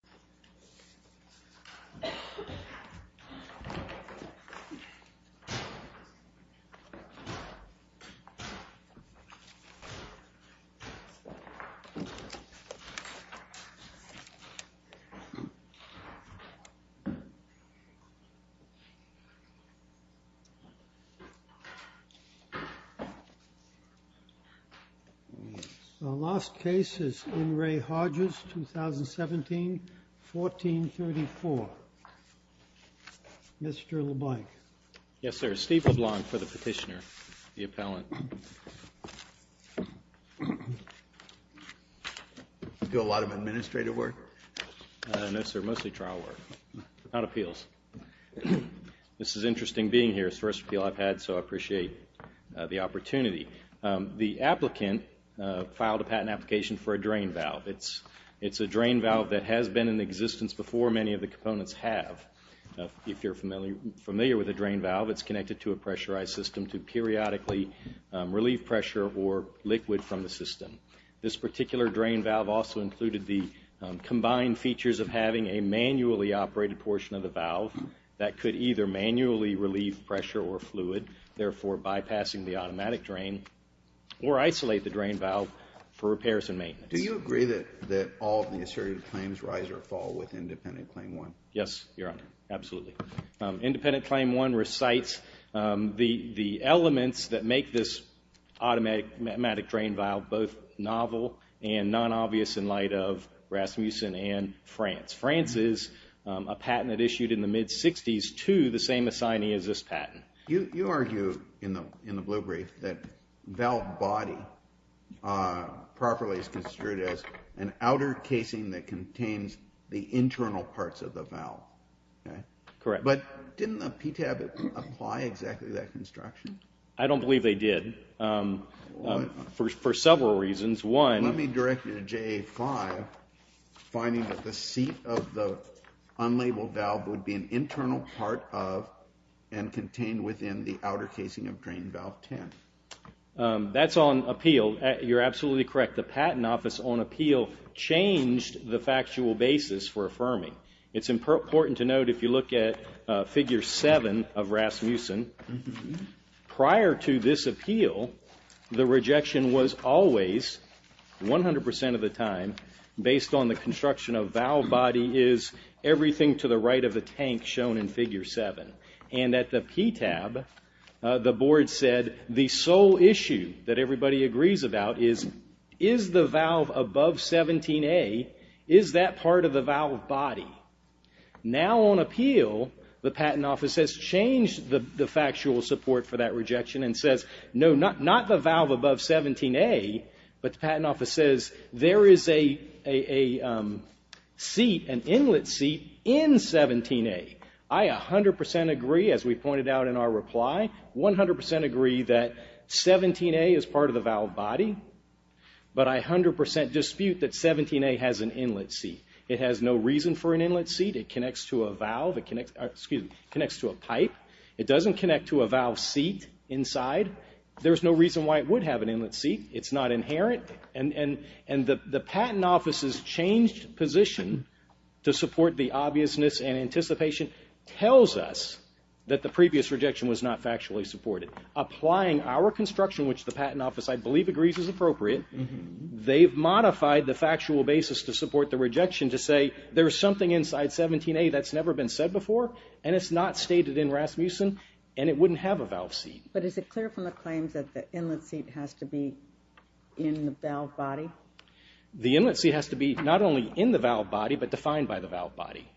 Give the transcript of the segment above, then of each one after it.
The first appeal I've had, so I appreciate the opportunity. The applicant filed a patent application for a drain valve. It's a drain valve that has been in existence before many of the components have. If you're familiar with a drain valve, it's connected to a pressurized system to periodically relieve pressure or liquid from the system. This particular drain valve also included the combined features of having a manually operated portion of the valve that could either manually relieve pressure or fluid, therefore bypassing the automatic drain, or isolate the drain valve for repairs and maintenance. Do you agree that all of the asserted claims rise or fall with Independent Claim 1? Yes, Your Honor, absolutely. Independent Claim 1 recites the elements that make this automatic drain valve both novel and non-obvious in light of Rasmussen and France. France is a patent that issued in the mid-60s to the same assignee as this patent. You argue in the blue brief that valve body properly is construed as an outer casing that contains the internal parts of the valve. Correct. But didn't the PTAB apply exactly that construction? I don't believe they did. For several reasons. One... Let me direct you to JA 5, finding that the seat of the unlabeled valve would be an internal part of and contained within the outer casing of drain valve 10. That's on appeal. You're absolutely correct. The Patent Office on appeal changed the factual basis for affirming. It's important to note if you look at Figure 7 of Rasmussen, prior to this appeal, the rejection was always, 100% of the time, based on the construction of valve body is everything to the right of the tank shown in Figure 7. And at the PTAB, the board said the sole issue that everybody agrees about is, is the valve above 17A, is that part of the valve body? Now on appeal, the Patent Office has changed the factual support for that rejection and says, no, not the valve above 17A, but the Patent Office says there is a seat, an inlet seat in 17A. I 100% agree, as we pointed out in our reply, 100% agree that 17A is part of the valve body, but I 100% dispute that 17A has an inlet seat. It has no reason for an inlet seat. It connects to a valve, it connects, excuse me, connects to a pipe. It doesn't connect to a valve seat inside. There's no reason why it would have an inlet seat. It's not inherent. And the Patent Office's changed position to support the obviousness and anticipation tells us that the previous rejection was not factually supported. Applying our construction, which the Patent Office, I believe, agrees is appropriate, they've modified the factual basis to support the rejection to say, there's something inside 17A that's never been said before, and it's not stated in Rasmussen, and it wouldn't have a valve seat. But is it clear from the claims that the inlet seat has to be in the valve body? The inlet seat has to be not only in the valve body, but defined by the valve body.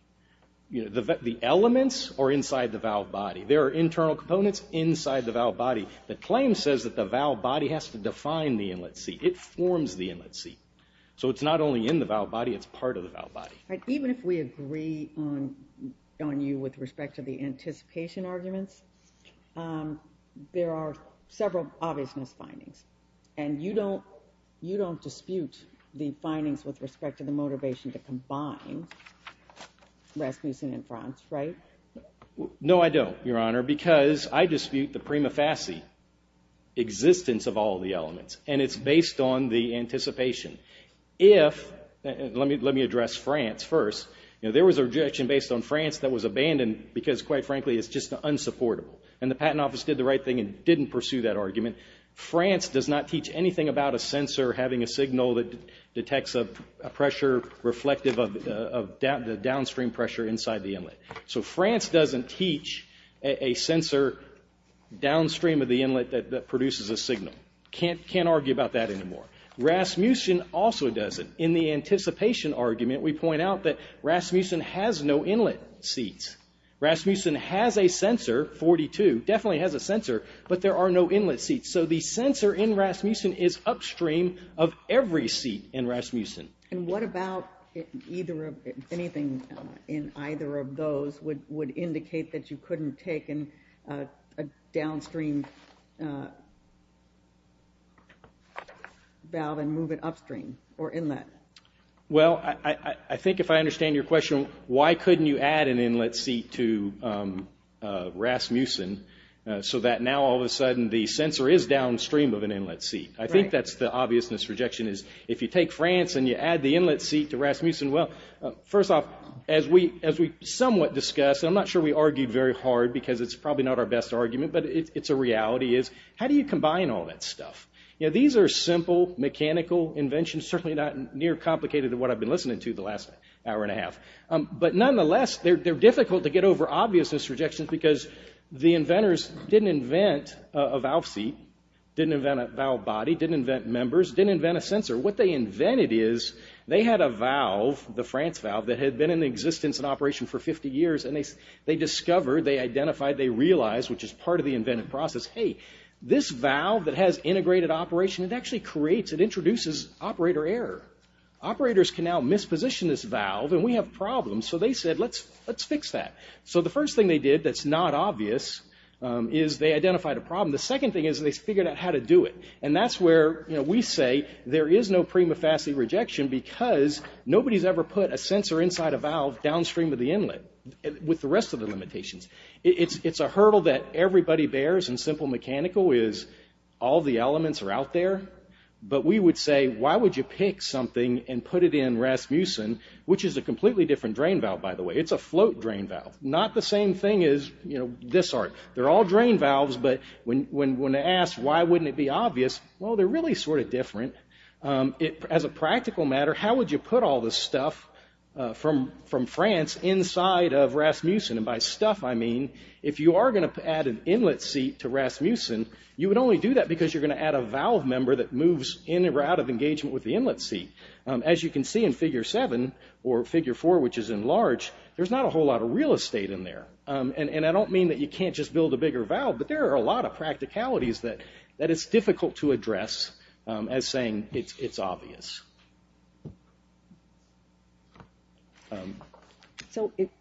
The elements are inside the valve body. There are internal components inside the valve body. The claim says that the valve body has to define the inlet seat. It forms the inlet seat. So it's not only in the valve body, it's part of the valve body. Even if we agree on you with respect to the anticipation arguments, there are several obviousness findings. And you don't dispute the findings with respect to the motivation to combine Rasmussen and France, right? No, I don't, Your Honor, because I dispute the prima facie existence of all the elements. And it's based on the anticipation. If, let me address France first, there was a rejection based on France that was abandoned because, quite frankly, it's just unsupportable. And the Patent Office did the right thing and didn't pursue that argument. France does not teach anything about a sensor having a signal that detects a pressure reflective of the downstream pressure inside the inlet. So France doesn't teach a sensor downstream of the inlet that produces a signal. Can't argue about that anymore. Rasmussen also doesn't. In the anticipation argument, we point out that Rasmussen has no inlet seats. Rasmussen has a sensor, 42, definitely has a sensor, but there are no inlet seats. So the sensor in Rasmussen is upstream of every seat in Rasmussen. And what about anything in either of those would indicate that you couldn't have taken a downstream valve and move it upstream or inlet? Well, I think if I understand your question, why couldn't you add an inlet seat to Rasmussen so that now all of a sudden the sensor is downstream of an inlet seat? I think that's the obviousness rejection is if you take France and you add the inlet seat to Rasmussen, well, first off, as we somewhat discussed, and I'm not sure we argued very hard because it's probably not our best argument, but it's a reality, is how do you combine all that stuff? You know, these are simple mechanical inventions, certainly not near complicated to what I've been listening to the last hour and a half. But nonetheless, they're difficult to get over obviousness rejections because the inventors didn't invent a valve seat, didn't invent a valve body, didn't invent members, didn't invent a sensor. What they invented is they had a valve, the France valve, that had been in operation for 50 years, and they discovered, they identified, they realized, which is part of the inventive process, hey, this valve that has integrated operation, it actually creates, it introduces operator error. Operators can now misposition this valve and we have problems. So they said, let's fix that. So the first thing they did that's not obvious is they identified a problem. The second thing is they figured out how to do it. And that's where, you know, we say there is no prima facie rejection because nobody's ever put a sensor inside a valve downstream of the inlet with the rest of the limitations. It's a hurdle that everybody bears in simple mechanical is all the elements are out there, but we would say, why would you pick something and put it in Rasmussen, which is a completely different drain valve, by the way. It's a float drain valve, not the same thing as, you know, this arc. They're all drain valves, but when asked why wouldn't it be obvious, well, they're really sort of different. As a practical matter, how would you put all this stuff from France inside of Rasmussen? And by stuff, I mean, if you are going to add an inlet seat to Rasmussen, you would only do that because you're going to add a valve member that moves in or out of engagement with the inlet seat. As you can see in Figure 7 or Figure 4, which is enlarged, there's not a whole lot of real estate in there. And I don't mean that you can't just build a bigger valve, but there are a lot of practicalities that it's difficult to address as saying it's obvious.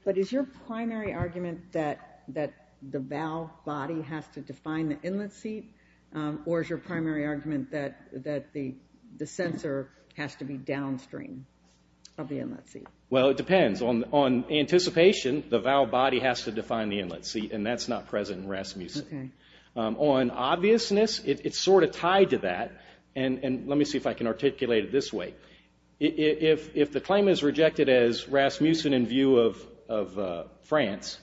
But is your primary argument that the valve body has to define the inlet seat, or is your primary argument that the sensor has to be downstream of the inlet seat? Well, it depends. On anticipation, the valve body has to define the inlet seat, and that's not present in Rasmussen. On obviousness, it's sort of tied to that. And let me see if I can articulate it this way. If the claim is rejected as Rasmussen in view of France,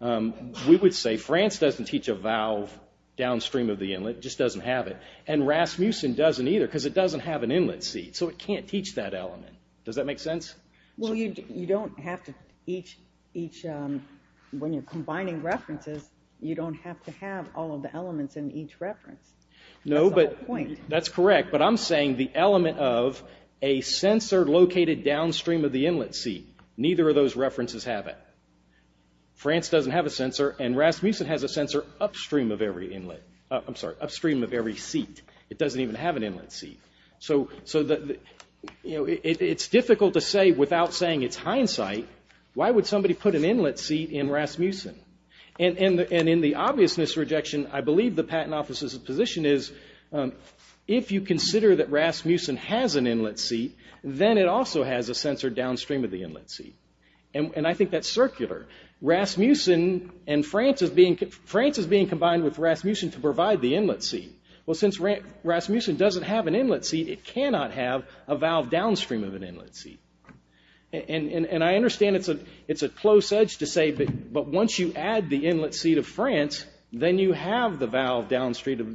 we would say France doesn't teach a valve downstream of the inlet, it just doesn't have it. And Rasmussen doesn't either because it doesn't have an inlet seat, so it can't teach that element. Does that make sense? Well, when you're combining references, you don't have to have all of the elements in each reference. No, but that's correct. But I'm saying the element of a sensor located downstream of the inlet seat, neither of those references have it. France doesn't have a sensor, and Rasmussen has a sensor upstream of every inlet. I'm sorry, upstream of every seat. It doesn't even have an inlet seat. So, you know, it's difficult to say without saying it's hindsight, why would somebody put an inlet seat in Rasmussen? And in the obviousness rejection, I believe the patent officer's position is, if you consider that Rasmussen has an inlet seat, then it also has a sensor downstream of the inlet seat. And I think that's circular. Rasmussen and France is being... France is being combined with Rasmussen to provide the inlet seat. Well, since Rasmussen doesn't have an inlet seat, it cannot have a valve downstream of an inlet seat. And I understand it's a close edge to say, but once you add the inlet seat of France, then you have the valve downstream of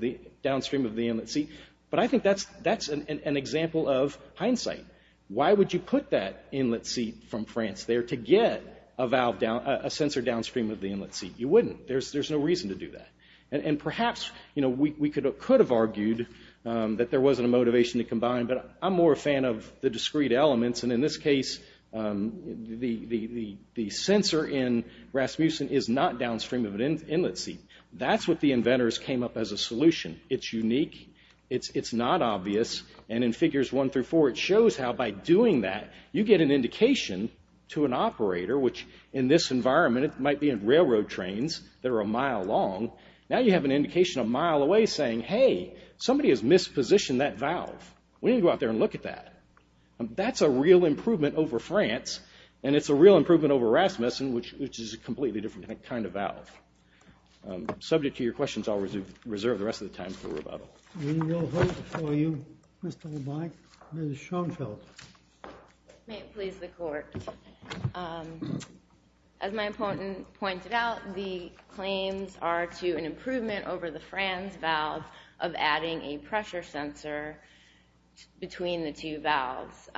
the inlet seat. But I think that's an example of hindsight. Why would you put that inlet seat from France there to get a sensor downstream of the inlet seat? You wouldn't. There's no reason to do that. And perhaps, you know, we could have argued that there wasn't a motivation to combine, but I'm more a fan of the discrete elements. And in this case, the sensor in Rasmussen is not downstream of an inlet seat. That's what the inventors came up as a solution. It's unique. It's not obvious. And in figures one through four, it shows how by doing that, you get an indication to an operator, which in this environment, it might be in railroad trains that are a mile long. Now you have an indication a mile away saying, hey, somebody has mispositioned that valve. We need to go out there and look at that. That's a real improvement over France. And it's a real improvement over Rasmussen, which is a completely different kind of valve. Subject to your questions, I'll reserve the rest of the time for rebuttal. We will vote for you, Mr. LeBlanc. Mrs. Schoenfeld. May it please the court. Well, as my opponent pointed out, the claims are to an improvement over the France valve of adding a pressure sensor between the two valves.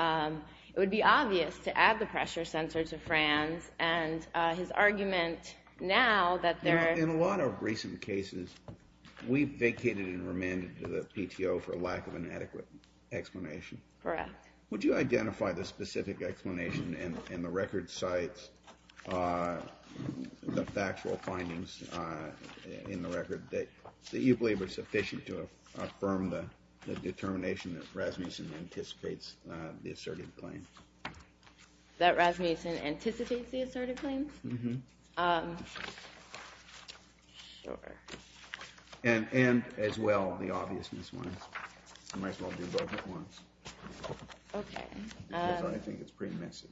It would be obvious to add the pressure sensor to France. And his argument now that there are- In a lot of recent cases, we've vacated and remanded to the PTO for lack of an adequate explanation. Correct. Would you identify the specific explanation in the record cites, the factual findings in the record that you believe are sufficient to affirm the determination that Rasmussen anticipates the asserted claim? That Rasmussen anticipates the asserted claims? Mm-hmm. And as well, the obviousness ones. I might as well do both at once. OK. Because I think it's pretty messy.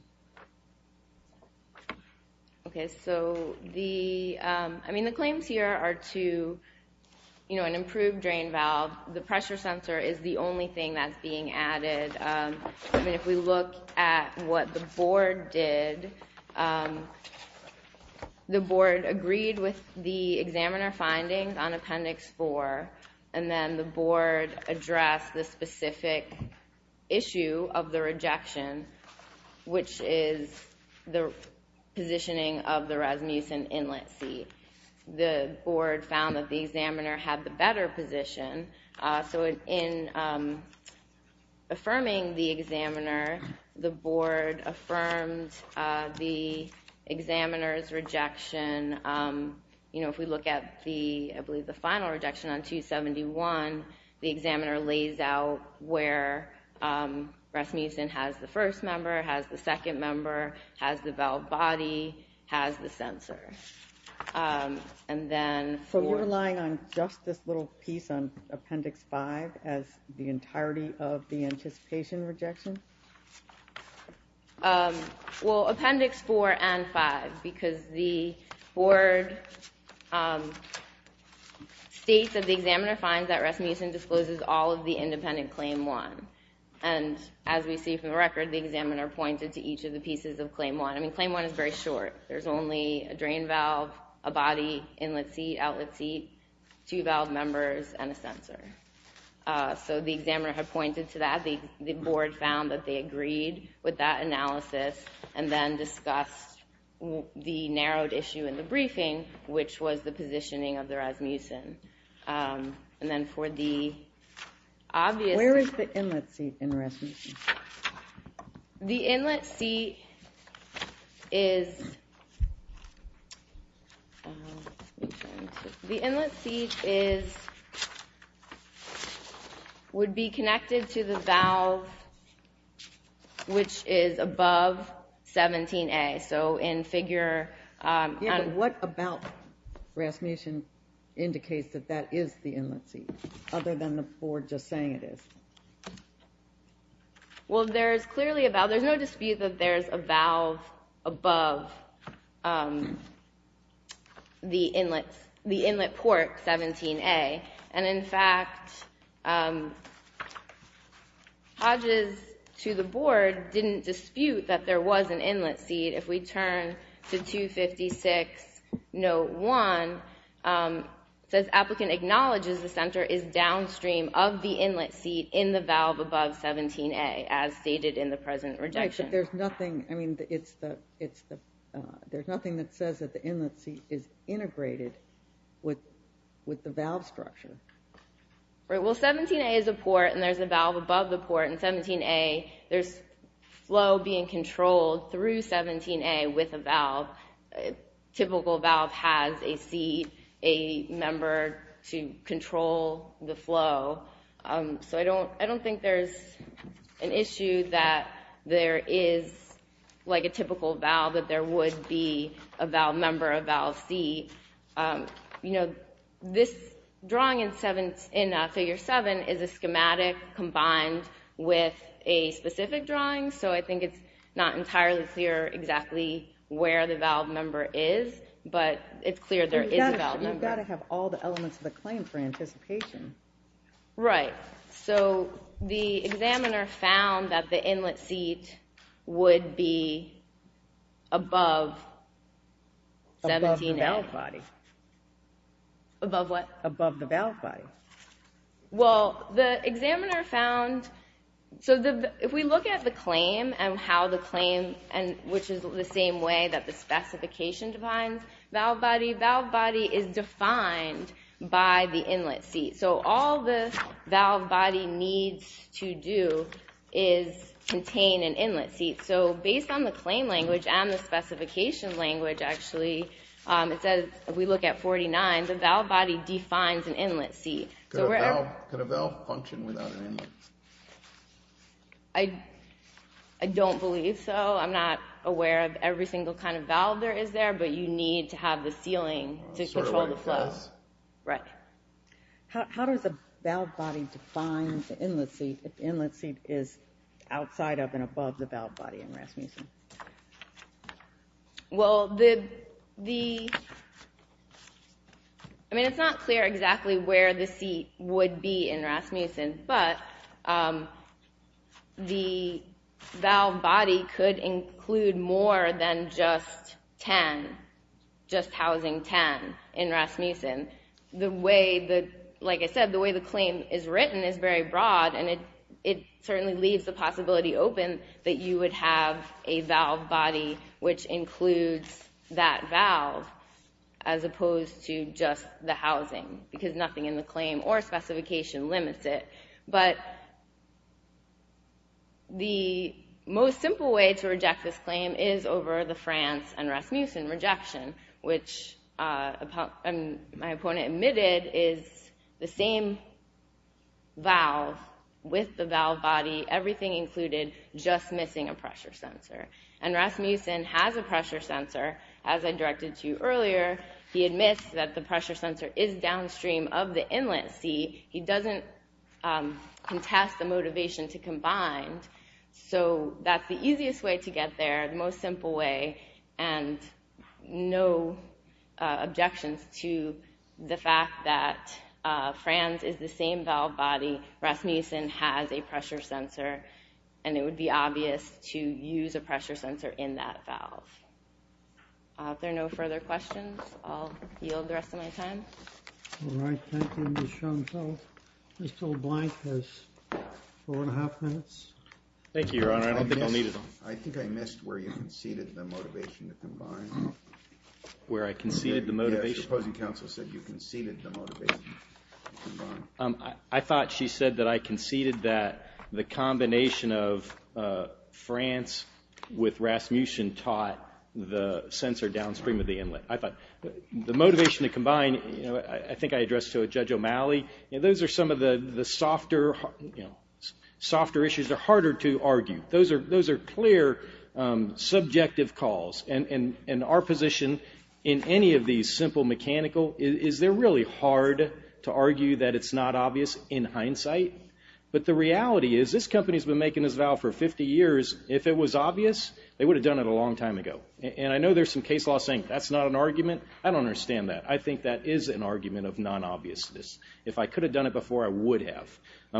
OK, so the claims here are to an improved drain valve. The pressure sensor is the only thing that's being added. If we look at what the board did, the board agreed with the examiner findings on appendix four. And then the board addressed the specific issue of the rejection, which is the positioning of the Rasmussen inlet seat. The board found that the examiner had the better position. So in affirming the examiner, the board affirmed the examiner's rejection. You know, if we look at the, I believe, the final rejection on 271, the examiner lays out where Rasmussen has the first member, has the second member, has the valve body, has the sensor. And then for- So you're relying on just this little piece on appendix five as the entirety of the anticipation rejection? Well, appendix four and five, because the board states that the examiner finds that Rasmussen discloses all of the independent claim one. And as we see from the record, the examiner pointed to each of the pieces of claim one. I mean, claim one is very short. There's only a drain valve, a body, inlet seat, outlet seat, two valve members, and a sensor. So the examiner had pointed to that. The board found that they agreed with that analysis and then discussed the narrowed issue in the briefing, which was the positioning of the Rasmussen. And then for the obvious- Where is the inlet seat in Rasmussen? The inlet seat is would be connected to the valve which is above 17A. So in figure- Yeah, but what about Rasmussen indicates that that is the inlet seat, other than the board just saying it is? Well, there's clearly a valve. There's no dispute that there's a valve above the inlet port 17A. And in fact, Hodges to the board didn't dispute that there was an inlet seat. If we turn to 256 note one, it says, applicant acknowledges the center is downstream of the inlet seat in the valve above 17A, as stated in the present rejection. But there's nothing that says that the inlet seat is integrated with the valve structure. Well, 17A is a port, and there's a valve above the port in 17A. There's flow being controlled through 17A with a valve. Typical valve has a seat, a member to control the flow. So I don't think there's an issue that there is a typical valve, that there would be a valve member, a valve seat. You know, this drawing in figure seven is a schematic combined with a specific drawing. So I think it's not entirely clear exactly where the valve member is, but it's clear there is a valve member. You've got to have all the elements of the claim for anticipation. Right. So the examiner found that the inlet seat would be above 17A. Above the valve body. Above what? Above the valve body. Well, the examiner found, so if we look at the claim and how the claim, which is the same way that the specification defines valve body, valve body is defined by the inlet seat. So all the valve body needs to do is contain an inlet seat. So based on the claim language and the specification language actually, it says if we look at 49, the valve body defines an inlet seat. Could a valve function without an inlet? I don't believe so. I'm not aware of every single kind of valve there is there, Right. How does a valve body define an inlet seat if the inlet seat is outside of and above the valve body in Rasmussen? Well, the, I mean it's not clear exactly where the seat would be in Rasmussen, but the valve body could include more than just 10, just housing 10 in Rasmussen. The way that, like I said, the way the claim is written is very broad and it certainly leaves the possibility open that you would have a valve body which includes that valve as opposed to just the housing because nothing in the claim or specification limits it. But the most simple way to reject this claim is over the France and Rasmussen rejection, which my opponent admitted is the same valve with the valve body, everything included, just missing a pressure sensor. And Rasmussen has a pressure sensor, as I directed to you earlier. He admits that the pressure sensor is downstream of the inlet seat. He doesn't contest the motivation to combine. So that's the easiest way to get there, the most simple way. And no objections to the fact that France is the same valve body, Rasmussen has a pressure sensor, and it would be obvious to use a pressure sensor in that valve. If there are no further questions, I'll yield the rest of my time. All right, thank you, Ms. Schoenfeld. Mr. O'Blank has four and a half minutes. Thank you, Your Honor, I don't think I'll need it. I think I missed where you conceded the motivation to combine. Where I conceded the motivation? Yes, your opposing counsel said you conceded the motivation to combine. I thought she said that I conceded that the combination of France with Rasmussen taught the sensor downstream of the inlet. I thought the motivation to combine, I think I addressed to Judge O'Malley, those are clear subjective calls. And our position in any of these simple mechanical, is they're really hard to argue that it's not obvious in hindsight. But the reality is this company has been making this valve for 50 years. If it was obvious, they would have done it a long time ago. And I know there's some case law saying that's not an argument. I don't understand that. I think that is an argument of non-obviousness. If I could have done it before, I would have.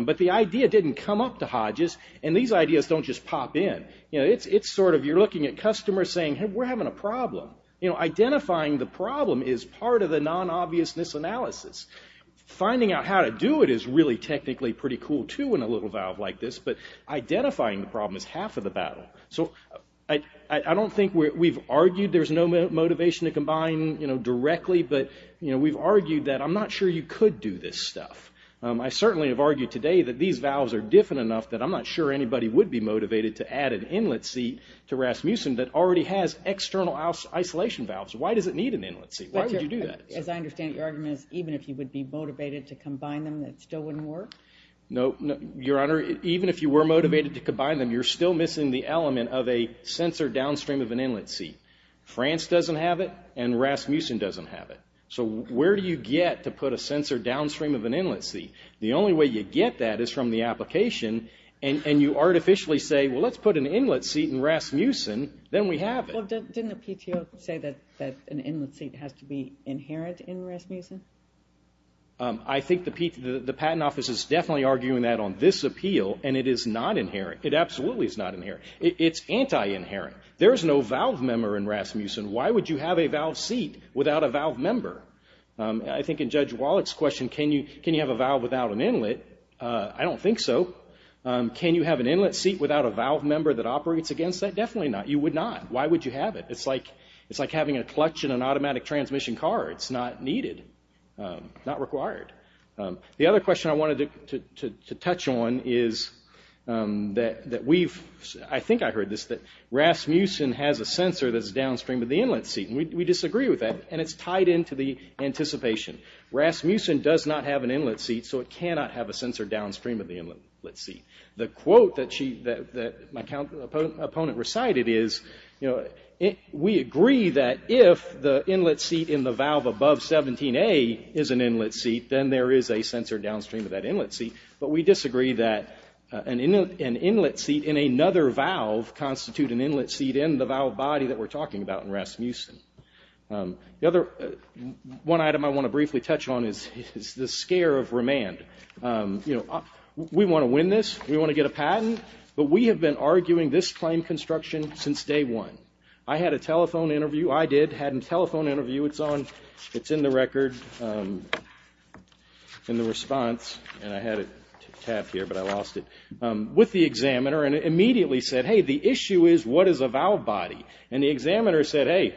But the idea didn't come up to Hodges. And these ideas don't just pop in. It's sort of you're looking at customers saying, hey, we're having a problem. Identifying the problem is part of the non-obviousness analysis. Finding out how to do it is really technically pretty cool, too, in a little valve like this. But identifying the problem is half of the battle. So I don't think we've argued there's no motivation to combine directly. But we've argued that I'm not sure you could do this stuff. I certainly have argued today that these valves are different enough that I'm not sure anybody would be motivated to add an inlet seat to Rasmussen that already has external isolation valves. Why does it need an inlet seat? Why would you do that? As I understand it, your argument is even if you would be motivated to combine them, it still wouldn't work? No, Your Honor, even if you were motivated to combine them, you're still missing the element of a sensor downstream of an inlet seat. France doesn't have it. And Rasmussen doesn't have it. So where do you get to put a sensor downstream of an inlet seat? The only way you get that is from the application. And you artificially say, well, let's put an inlet seat in Rasmussen. Then we have it. Didn't the PTO say that an inlet seat has to be inherent in Rasmussen? I think the patent office is definitely arguing that on this appeal. And it is not inherent. It absolutely is not inherent. It's anti-inherent. There is no valve member in Rasmussen. Why would you have a valve seat without a valve member? I think in Judge Wallach's question, can you have a valve without an inlet? I don't think so. Can you have an inlet seat without a valve member that operates against that? Definitely not. You would not. Why would you have it? It's like having a clutch in an automatic transmission car. It's not needed, not required. The other question I wanted to touch on is that we've, I think I heard this, that Rasmussen has a sensor that's downstream of the inlet seat. And we disagree with that. And it's tied into the anticipation. Rasmussen does not have an inlet seat, so it cannot have a sensor downstream of the inlet seat. The quote that she, that my opponent recited is, you know, we agree that if the inlet seat in the valve above 17A is an inlet seat, then there is a sensor downstream of that inlet seat. But we disagree that an inlet seat in another valve constitute an inlet seat in the valve body that we're talking about in Rasmussen. The other, one item I want to briefly touch on is the scare of remand. You know, we want to win this, we want to get a patent, but we have been arguing this claim construction since day one. I had a telephone interview, I did, had a telephone interview, it's on, it's in the record, in the response, and I had a tab here, but I lost it, with the examiner. And it immediately said, hey, the issue is what is a valve body? And the examiner said, hey,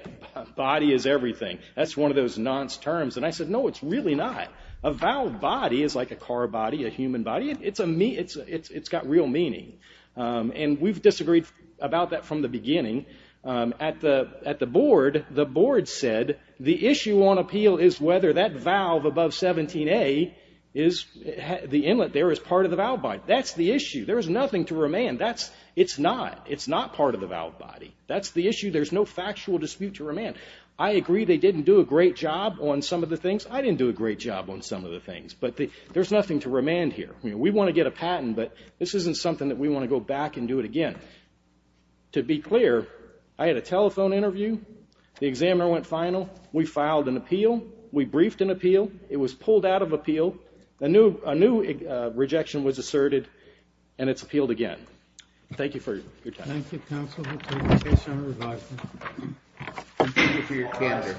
body is everything. That's one of those nonce terms. And I said, no, it's really not. A valve body is like a car body, a human body, it's got real meaning. And we've disagreed about that from the beginning. At the board, the board said, the issue on appeal is whether that valve above 17A is, the inlet there is part of the valve body. That's the issue. There is nothing to remand. That's, it's not, it's not part of the valve body. That's the issue. There's no factual dispute to remand. I agree they didn't do a great job on some of the things. I didn't do a great job on some of the things. But the, there's nothing to remand here. We want to get a patent, but this isn't something that we want to go back and do it again. To be clear, I had a telephone interview, the examiner went final, we filed an appeal, we briefed an appeal, it was pulled out of appeal, a new, a new rejection was asserted, and it's appealed again. Thank you for your time. Thank you, Council, for taking the case on revival. Thank you for your time.